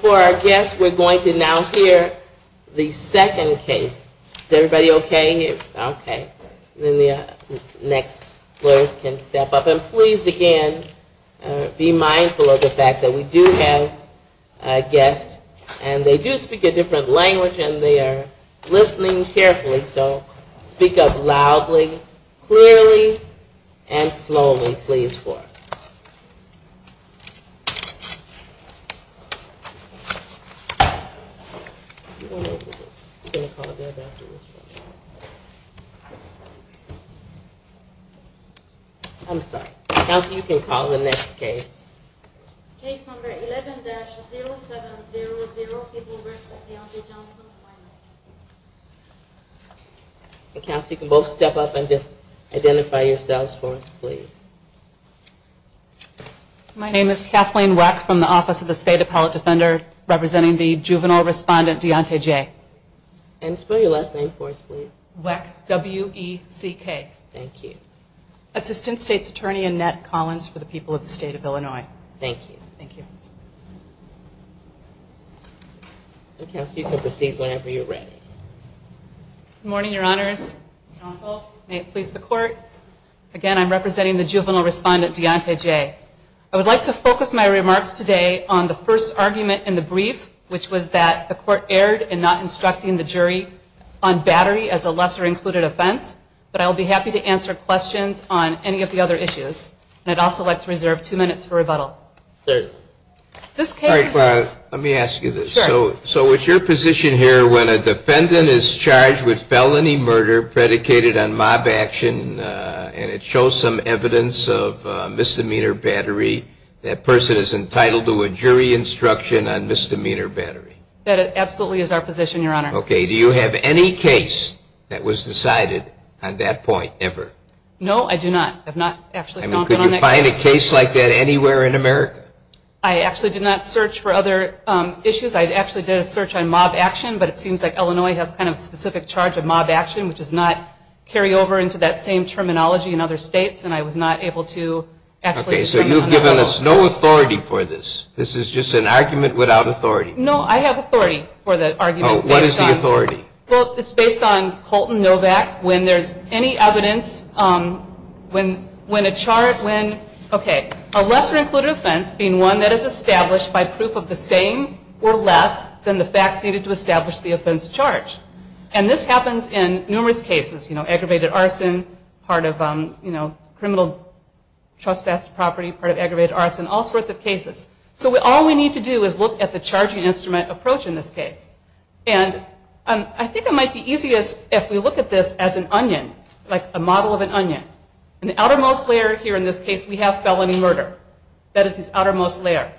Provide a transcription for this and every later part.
For our guests, we're going to now hear the second case. Is everybody okay? Okay. Then the next lawyers can step up. And please, again, be mindful of the fact that we do have a guest and they do speak a different language and they are listening carefully. So speak up loudly, clearly, and slowly, please, for us. I'm sorry. Counsel, you can call the next case. Case number 11-0700, Pippin Brooks v. Dionte Johnson. Counsel, you can both step up and just identify yourselves for us, please. My name is Kathleen Weck from the Office of the State Appellate Defender, representing the juvenile respondent Dionte J. And spell your last name for us, please. Weck, W-E-C-K. Thank you. Assistant State's Attorney Annette Collins for the people of the state of Illinois. Thank you. Thank you. Counsel, you can proceed whenever you're ready. Good morning, Your Honors. Counsel, may it please the Court. Again, I'm representing the juvenile respondent Dionte J. I would like to focus my remarks today on the first argument in the brief, which was that the Court erred in not instructing the jury on battery as a lesser included offense. But I'll be happy to answer questions on any of the other issues. And I'd also like to reserve two minutes for rebuttal. Let me ask you this. So it's your position here, when a defendant is charged with felony murder predicated on mob action, and it shows some evidence of misdemeanor battery, that person is entitled to a jury instruction on misdemeanor battery? That absolutely is our position, Your Honor. Okay. Do you have any case that was decided on that point ever? No, I do not. I have not actually found one on that case. I mean, could you find a case like that anywhere in America? No. I actually did not search for other issues. I actually did a search on mob action, but it seems like Illinois has kind of a specific charge of mob action, which does not carry over into that same terminology in other states, and I was not able to actually determine on that. Okay, so you've given us no authority for this. This is just an argument without authority. No, I have authority for the argument. What is the authority? Well, it's based on Colton Novak. When there's any evidence, when a charge, when, okay, a lesser-included offense being one that is established by proof of the same or less than the facts needed to establish the offense charge. And this happens in numerous cases, you know, aggravated arson, part of, you know, criminal trespass property, part of aggravated arson, all sorts of cases. So all we need to do is look at the charging instrument approach in this case. And I think it might be easiest if we look at this as an onion, like a model of an onion. In the outermost layer here in this case, we have felony murder. That is this outermost layer.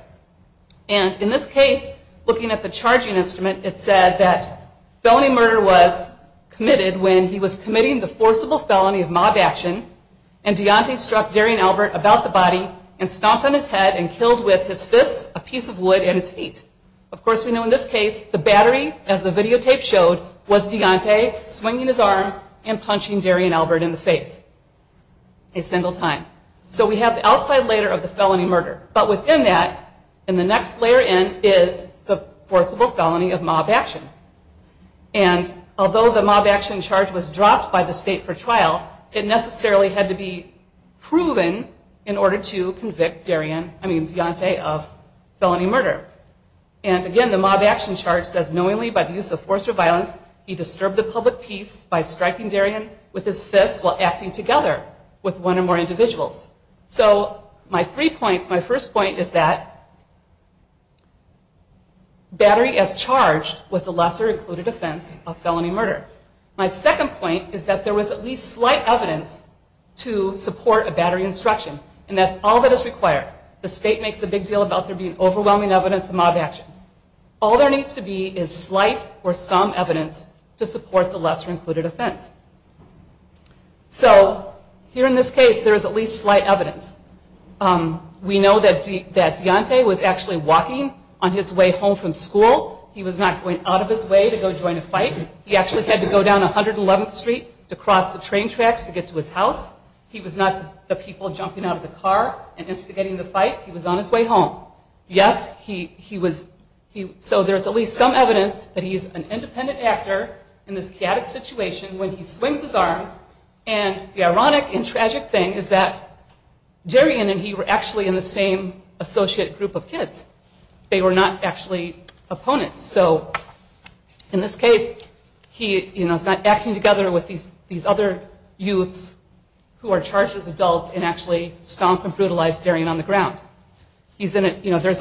And in this case, looking at the charging instrument, it said that felony murder was committed when he was committing the forcible felony of mob action and Deontay struck Darian Albert about the body and stomped on his head and killed with his fists, a piece of wood, and his feet. Of course, we know in this case, the battery, as the videotape showed, was Deontay swinging his arm and punching Darian Albert in the face a single time. So we have the outside layer of the felony murder. But within that, in the next layer in, is the forcible felony of mob action. And although the mob action charge was dropped by the state for trial, it necessarily had to be proven in order to convict Deontay of felony murder. And again, the mob action charge says, knowingly by the use of force or violence, he disturbed the public peace by striking Darian with his fists while acting together with one or more individuals. So my three points, my first point is that battery as charged was the lesser included offense of felony murder. My second point is that there was at least slight evidence to support a battery instruction. And that's all that is required. The state makes a big deal about there being overwhelming evidence of mob action. All there needs to be is slight or some evidence to support the lesser included offense. So here in this case, there is at least slight evidence. We know that Deontay was actually walking on his way home from school. He was not going out of his way to go join a fight. He actually had to go down 111th Street to cross the train tracks to get to his house. He was not the people jumping out of the car and instigating the fight. He was on his way home. Yes, he was. So there's at least some evidence that he's an independent actor in this chaotic situation when he swings his arms. And the ironic and tragic thing is that Darian and he were actually in the same associate group of kids. They were not actually opponents. So in this case, he's not acting together with these other youths who are charged as adults and actually stomp and brutalize Darian on the ground. There's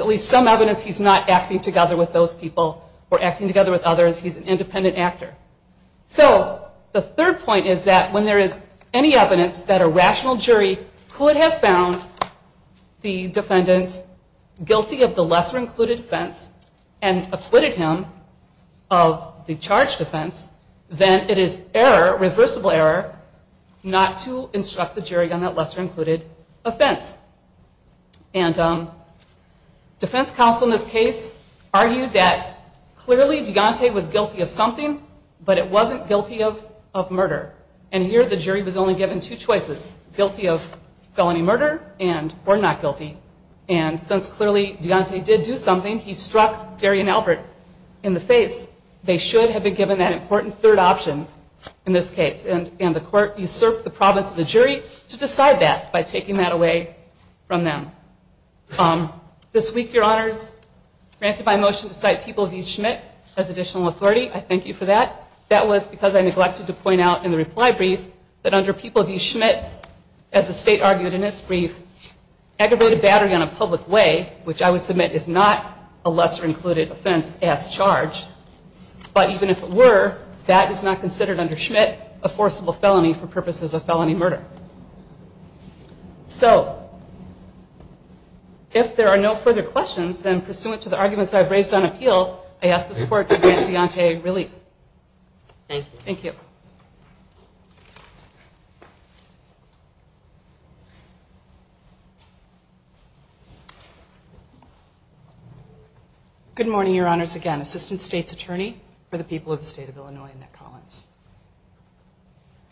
at least some evidence he's not acting together with those people or acting together with others. He's an independent actor. So the third point is that when there is any evidence that a rational jury could have found the defendant guilty of the lesser included offense and acquitted him of the charged offense, then it is irreversible error not to instruct the jury on that lesser included offense. And defense counsel in this case argued that clearly Deontay was guilty of something, but it wasn't guilty of murder. And here the jury was only given two choices, guilty of felony murder or not guilty. And since clearly Deontay did do something, he struck Darian Albert in the face, they should have been given that important third option in this case. And the court usurped the province of the jury to decide that by taking that away from them. This week, your honors, granted my motion to cite People v. Schmidt as additional authority. I thank you for that. That was because I neglected to point out in the reply brief that under People v. Schmidt, as the state argued in its brief, aggravated battery on a public way, which I would submit is not a lesser included offense as charged. But even if it were, that is not considered under Schmidt a forcible felony for purposes of felony murder. So if there are no further questions, then pursuant to the arguments I've raised on appeal, I ask this court to grant Deontay relief. Thank you. Good morning, your honors. Again, Assistant State's Attorney for the people of the state of Illinois, Annette Collins.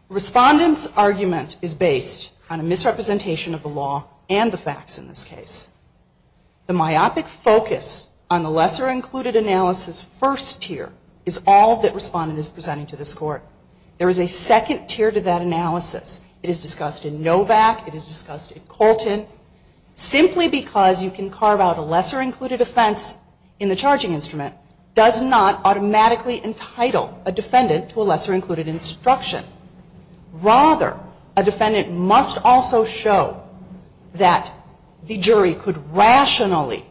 Respondent's argument is based on a misrepresentation of the law and the facts in this case. The myopic focus on the lesser included analysis first tier is all that respondent is presenting to this court. There is a second tier to that analysis. It is discussed in Novak. It is discussed in Colton. Simply because you can carve out a lesser included offense in the charging instrument does not automatically entitle a defendant to a lesser included instruction. Rather, a defendant must also show that the jury could rationally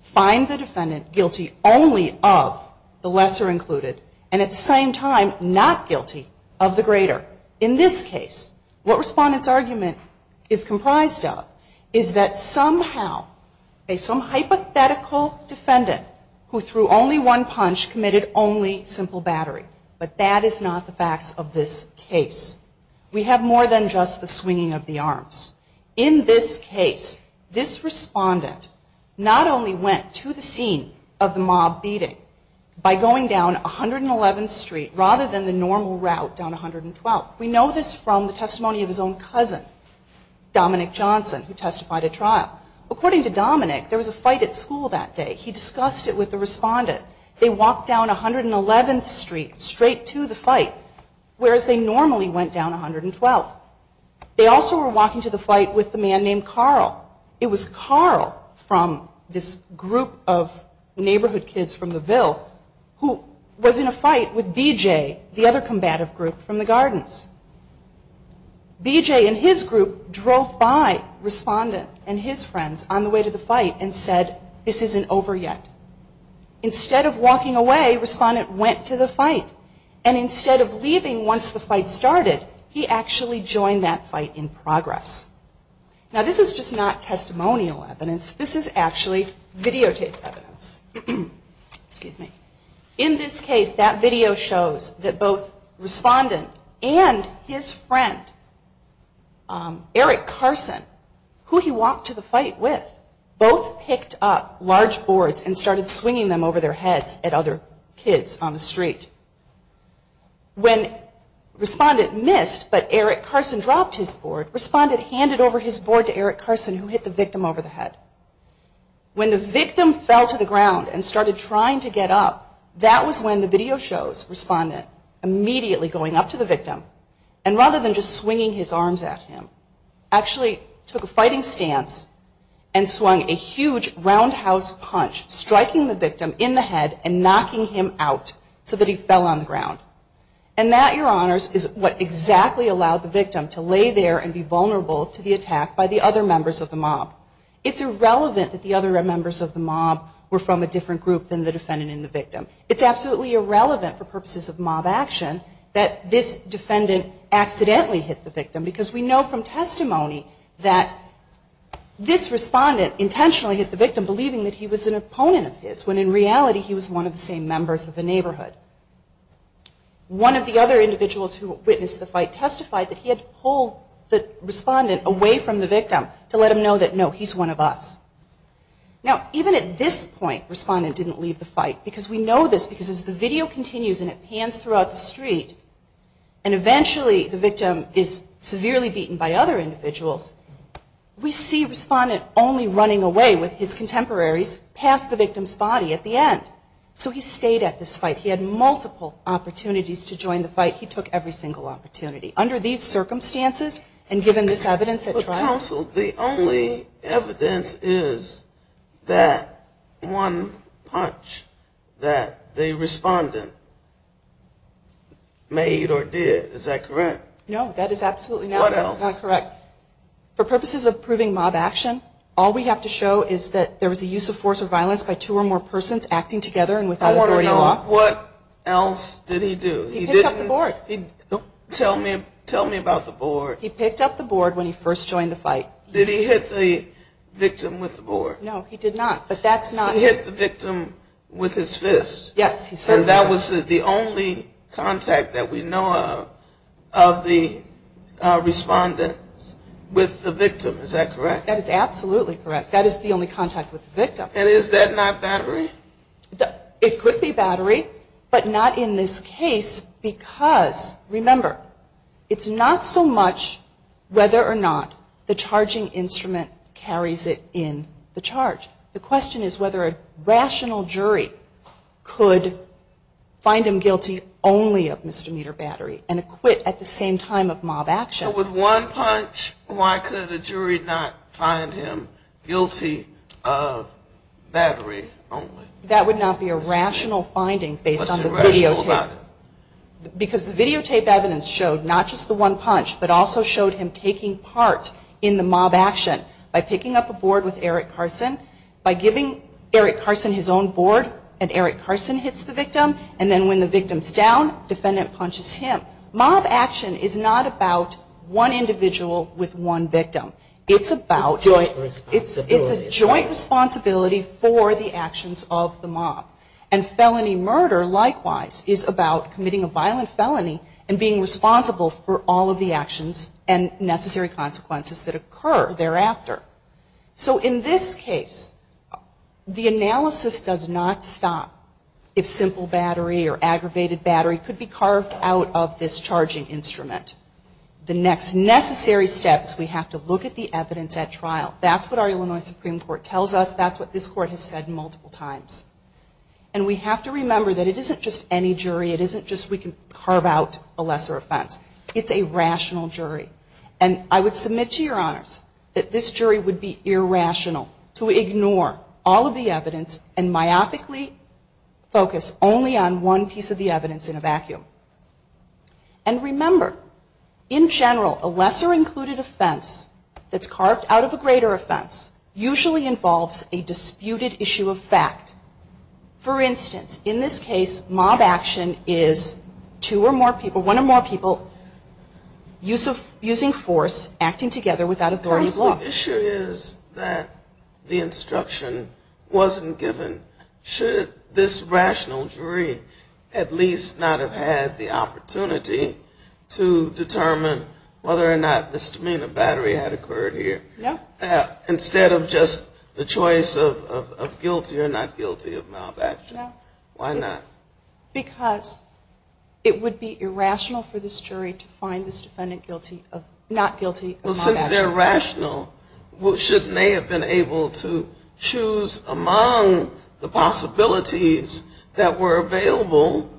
find the defendant guilty only of the lesser included and at the same time not guilty of the greater. In this case, what respondent's argument is comprised of is that somehow some hypothetical defendant who threw only one punch committed only simple battery. But that is not the facts of this case. We have more than just the swinging of the arms. In this case, this respondent not only went to the scene of the mob beating by going down 111th Street rather than the normal route down 112th. We know this from the testimony of his own cousin, Dominic Johnson, who testified at trial. According to Dominic, there was a fight at school that day. He discussed it with the respondent. They walked down 111th Street straight to the fight, whereas they normally went down 112th. They also were walking to the fight with a man named Carl. It was Carl from this group of neighborhood kids from the Ville who was in a fight with BJ, the other combative group from the Gardens. BJ and his group drove by respondent and his friends on the way to the fight and said, this isn't over yet. Instead of walking away, respondent went to the fight. And instead of leaving once the fight started, he actually joined that fight in progress. Now this is just not testimonial evidence. This is actually videotaped evidence. In this case, that video shows that both respondent and his friend, Eric Carson, who he walked to the fight with, both picked up large boards and started swinging them over their heads at other kids on the street. When respondent missed but Eric Carson dropped his board, respondent handed over his board to Eric Carson who hit the victim over the head. When the victim fell to the ground and started trying to get up, that was when the video shows respondent immediately going up to the victim and rather than just swinging his arms at him, actually took a fighting stance and swung a huge roundhouse punch, striking the victim in the head and knocking him out so that he fell on the ground. And that, your honors, is what exactly allowed the victim to lay there and be vulnerable to the attack by the other members of the mob. It's irrelevant that the other members of the mob were from a different group than the defendant and the victim. It's absolutely irrelevant for purposes of mob action that this defendant accidentally hit the victim because we know from testimony that this respondent intentionally hit the victim believing that he was an opponent of his, when in reality he was one of the same members of the neighborhood. One of the other individuals who witnessed the fight testified that he had to pull the respondent away from the victim to let him know that, no, he's one of us. Now, even at this point, respondent didn't leave the fight because we know this because as the video continues and it pans throughout the street and eventually the victim is severely beaten by other individuals, we see respondent only running away with his contemporaries past the victim's body at the end. So he stayed at this fight. He had multiple opportunities to join the fight. He took every single opportunity. Under these circumstances and given this evidence at trial. Counsel, the only evidence is that one punch that the respondent made or did. Is that correct? No, that is absolutely not correct. What else? For purposes of proving mob action, all we have to show is that there was a use of force or violence by two or more persons acting together and without authority in law. I want to know what else did he do? He picked up the board. Tell me about the board. He picked up the board when he first joined the fight. Did he hit the victim with the board? No, he did not, but that's not. He hit the victim with his fist. Yes, he certainly did. And that was the only contact that we know of of the respondent with the victim, is that correct? That is absolutely correct. That is the only contact with the victim. And is that not battery? It could be battery, but not in this case because, remember, it's not so much whether or not the charging instrument carries it in the charge. The question is whether a rational jury could find him guilty only of misdemeanor battery and acquit at the same time of mob action. So with one punch, why could a jury not find him guilty of battery only? That would not be a rational finding based on the videotape. What's irrational about it? Because the videotape evidence showed not just the one punch, but also showed him taking part in the mob action by picking up a board with Eric Carson, by giving Eric Carson his own board, and Eric Carson hits the victim, and then when the victim's down, defendant punches him. But mob action is not about one individual with one victim. It's a joint responsibility for the actions of the mob. And felony murder, likewise, is about committing a violent felony and being responsible for all of the actions and necessary consequences that occur thereafter. So in this case, the analysis does not stop if simple battery or aggravated battery could be carved out of this charging instrument. The next necessary steps, we have to look at the evidence at trial. That's what our Illinois Supreme Court tells us. That's what this Court has said multiple times. And we have to remember that it isn't just any jury. It isn't just we can carve out a lesser offense. It's a rational jury. And I would submit to your honors that this jury would be irrational to ignore all of the evidence and myopically focus only on one piece of the evidence in a vacuum. And remember, in general, a lesser included offense that's carved out of a greater offense usually involves a disputed issue of fact. For instance, in this case, mob action is two or more people, one or more people, The issue is that the instruction wasn't given. Should this rational jury at least not have had the opportunity to determine whether or not misdemeanor battery had occurred here? No. Instead of just the choice of guilty or not guilty of mob action. No. Why not? Because it would be irrational for this jury to find this defendant not guilty of mob action. Well, since they're rational, shouldn't they have been able to choose among the possibilities that were available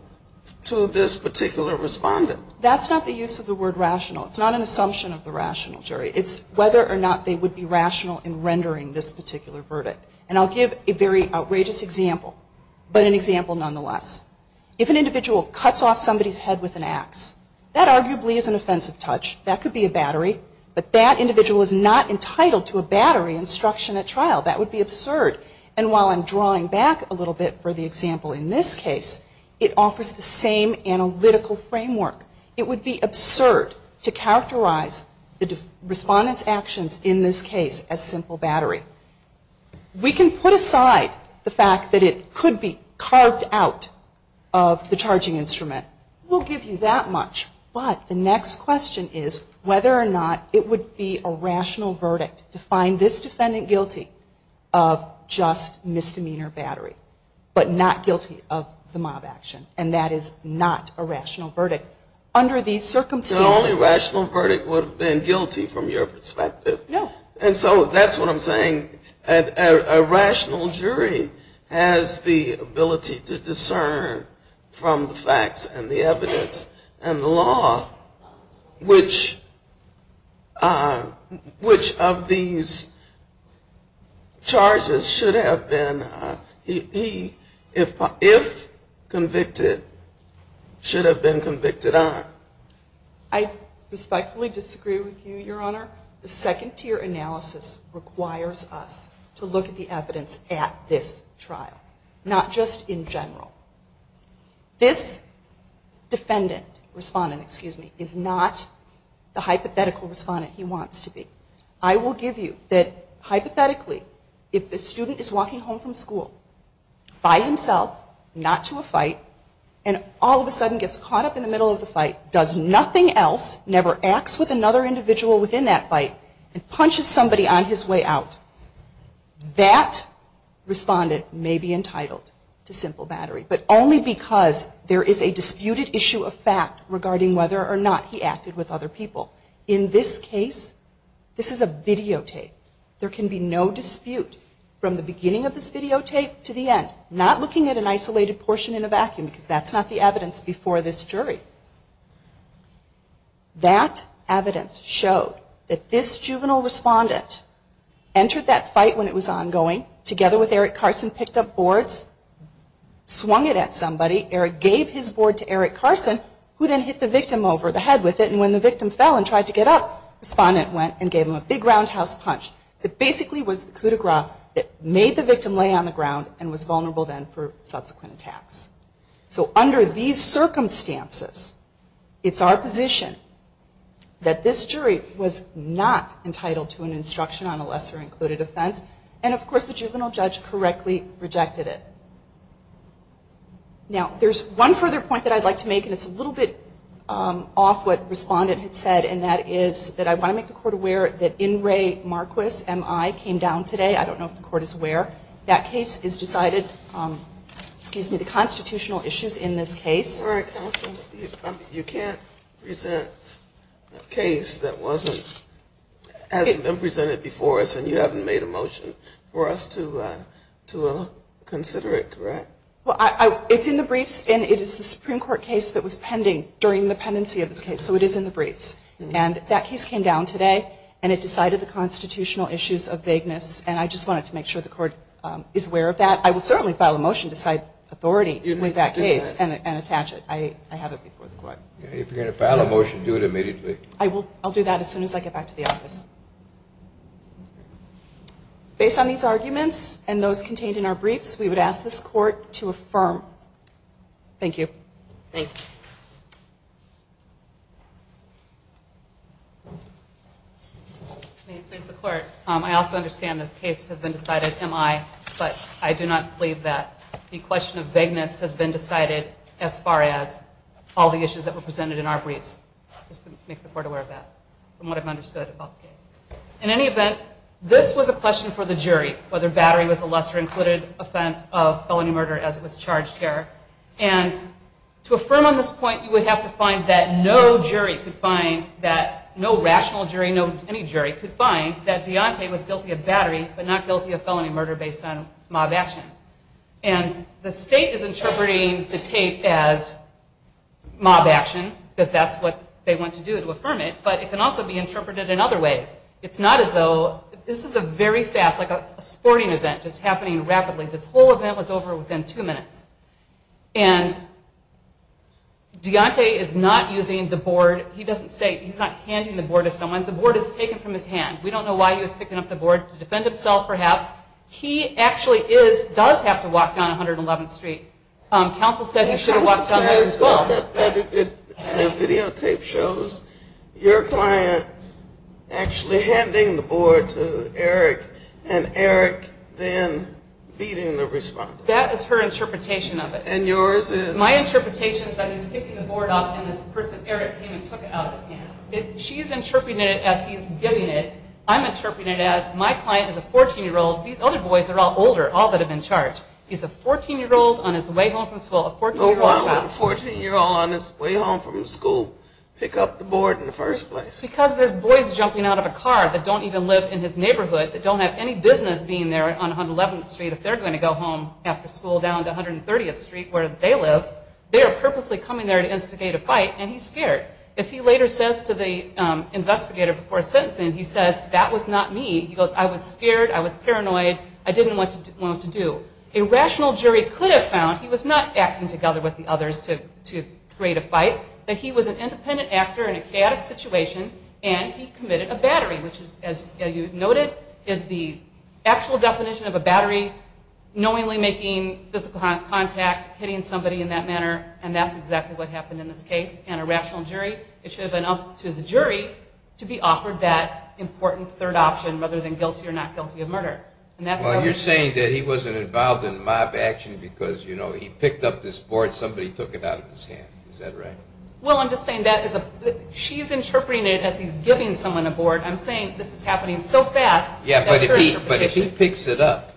to this particular respondent? That's not the use of the word rational. It's not an assumption of the rational jury. It's whether or not they would be rational in rendering this particular verdict. And I'll give a very outrageous example, but an example nonetheless. If an individual cuts off somebody's head with an ax, that arguably is an offensive touch. That could be a battery, but that individual is not entitled to a battery instruction at trial. That would be absurd. And while I'm drawing back a little bit for the example in this case, it offers the same analytical framework. It would be absurd to characterize the respondent's actions in this case as simple battery. We can put aside the fact that it could be carved out of the charging instrument. We'll give you that much. But the next question is whether or not it would be a rational verdict to find this defendant guilty of just misdemeanor battery, but not guilty of the mob action. And that is not a rational verdict. Under these circumstances. The only rational verdict would have been guilty from your perspective. No. And so that's what I'm saying. A rational jury has the ability to discern from the facts and the evidence and the law, which of these charges should have been, if convicted, should have been convicted on. I respectfully disagree with you, Your Honor. The second tier analysis requires us to look at the evidence at this trial, not just in general. This defendant, respondent, excuse me, is not the hypothetical respondent he wants to be. I will give you that hypothetically, if the student is walking home from school by himself, not to a fight, and all of a sudden gets caught up in the middle of the fight, does nothing else, never acts with another individual within that fight, and punches somebody on his way out, that respondent may be entitled to simple battery. But only because there is a disputed issue of fact regarding whether or not he acted with other people. In this case, this is a videotape. There can be no dispute from the beginning of this videotape to the end. Not looking at an isolated portion in a vacuum, because that's not the evidence before this jury. That evidence showed that this juvenile respondent entered that fight when it was ongoing, together with Eric Carson, picked up boards, swung it at somebody, Eric gave his board to Eric Carson, who then hit the victim over the head with it, and when the victim fell and tried to get up, respondent went and gave him a big roundhouse punch. It basically was the coup de grace that made the victim lay on the ground and was vulnerable then for subsequent attacks. So under these circumstances, it's our position that this jury was not entitled to an instruction on a lesser included offense, and of course the juvenile judge correctly rejected it. Now, there's one further point that I'd like to make, and it's a little bit off what respondent had said, and that is that I want to make the court aware that In re Marquis M.I. came down today. I don't know if the court is aware. That case is decided, excuse me, the constitutional issues in this case. All right, counsel. You can't present a case that hasn't been presented before us, and you haven't made a motion for us to consider it, correct? Well, it's in the briefs, and it is the Supreme Court case that was pending during the pendency of this case, so it is in the briefs. And that case came down today, and it decided the constitutional issues of vagueness, and I just wanted to make sure the court is aware of that. I will certainly file a motion to cite authority with that case and attach it. I have it before the court. If you're going to file a motion, do it immediately. I'll do that as soon as I get back to the office. Based on these arguments and those contained in our briefs, we would ask this court to affirm. Thank you. Thank you. May it please the court, I also understand this case has been decided, am I, but I do not believe that the question of vagueness has been decided as far as all the issues that were presented in our briefs, just to make the court aware of that, from what I've understood about the case. In any event, this was a question for the jury, whether battery was a lesser included offense of felony murder as it was charged here, and to affirm on this point, you would have to find that no jury could find that, no rational jury, no any jury could find that Deontay was guilty of battery, but not guilty of felony murder based on mob action, and the state is interpreting the tape as mob action, because that's what they want to do, to affirm it, but it can also be interpreted in other ways. It's not as though, this is a very fast, like a sporting event, just happening rapidly. This whole event was over within two minutes, and Deontay is not using the board. He doesn't say, he's not handing the board to someone. The board is taken from his hand. We don't know why he was picking up the board, to defend himself perhaps. He actually is, does have to walk down 111th Street. Counsel says he should have walked down there as well. The videotape shows your client actually handing the board to Eric, and Eric then beating the respondent. That is her interpretation of it. And yours is? My interpretation is that he's picking the board up, and this person, Eric, came and took it out of his hand. She's interpreting it as he's giving it. I'm interpreting it as my client is a 14-year-old. These other boys are all older, all that have been charged. He's a 14-year-old on his way home from school, a 14-year-old child. A 14-year-old on his way home from school, pick up the board in the first place. Because there's boys jumping out of a car that don't even live in his neighborhood, that don't have any business being there on 111th Street, if they're going to go home after school down to 130th Street where they live, they are purposely coming there to instigate a fight, and he's scared. As he later says to the investigator before sentencing, he says, that was not me. He goes, I was scared, I was paranoid, I didn't know what to do. A rational jury could have found he was not acting together with the others to create a fight, that he was an independent actor in a chaotic situation, and he committed a battery, which, as you noted, is the actual definition of a battery, knowingly making physical contact, hitting somebody in that manner, and that's exactly what happened in this case. And a rational jury, it should have been up to the jury to be offered that important third option, rather than guilty or not guilty of murder. Well, you're saying that he wasn't involved in mob action because, you know, he picked up this board, somebody took it out of his hand, is that right? Well, I'm just saying that she's interpreting it as he's giving someone a board. I'm saying this is happening so fast, that's her interpretation. Yeah, but if he picks it up,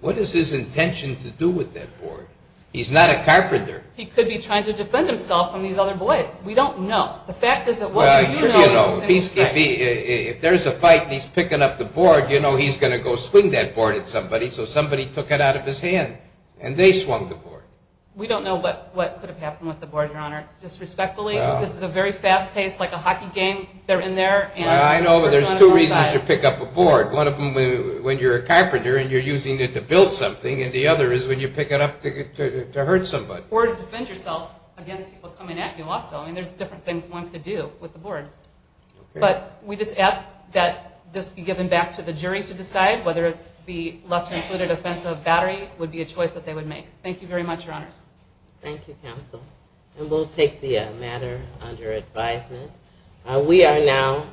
what is his intention to do with that board? He's not a carpenter. He could be trying to defend himself from these other boys. The fact is that what we do know is a simple strike. If there's a fight and he's picking up the board, you know he's going to go swing that board at somebody, so somebody took it out of his hand, and they swung the board. We don't know what could have happened with the board, Your Honor. Disrespectfully, this is a very fast-paced, like a hockey game, they're in there. I know, but there's two reasons you pick up a board. One of them when you're a carpenter and you're using it to build something, and the other is when you pick it up to hurt somebody. Or to defend yourself against people coming at you also. I mean, there's different things one could do with the board. But we just ask that this be given back to the jury to decide whether the lesser-included offense of battery would be a choice that they would make. Thank you very much, Your Honors. Thank you, Counsel. And we'll take the matter under advisement. We are now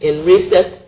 in recess.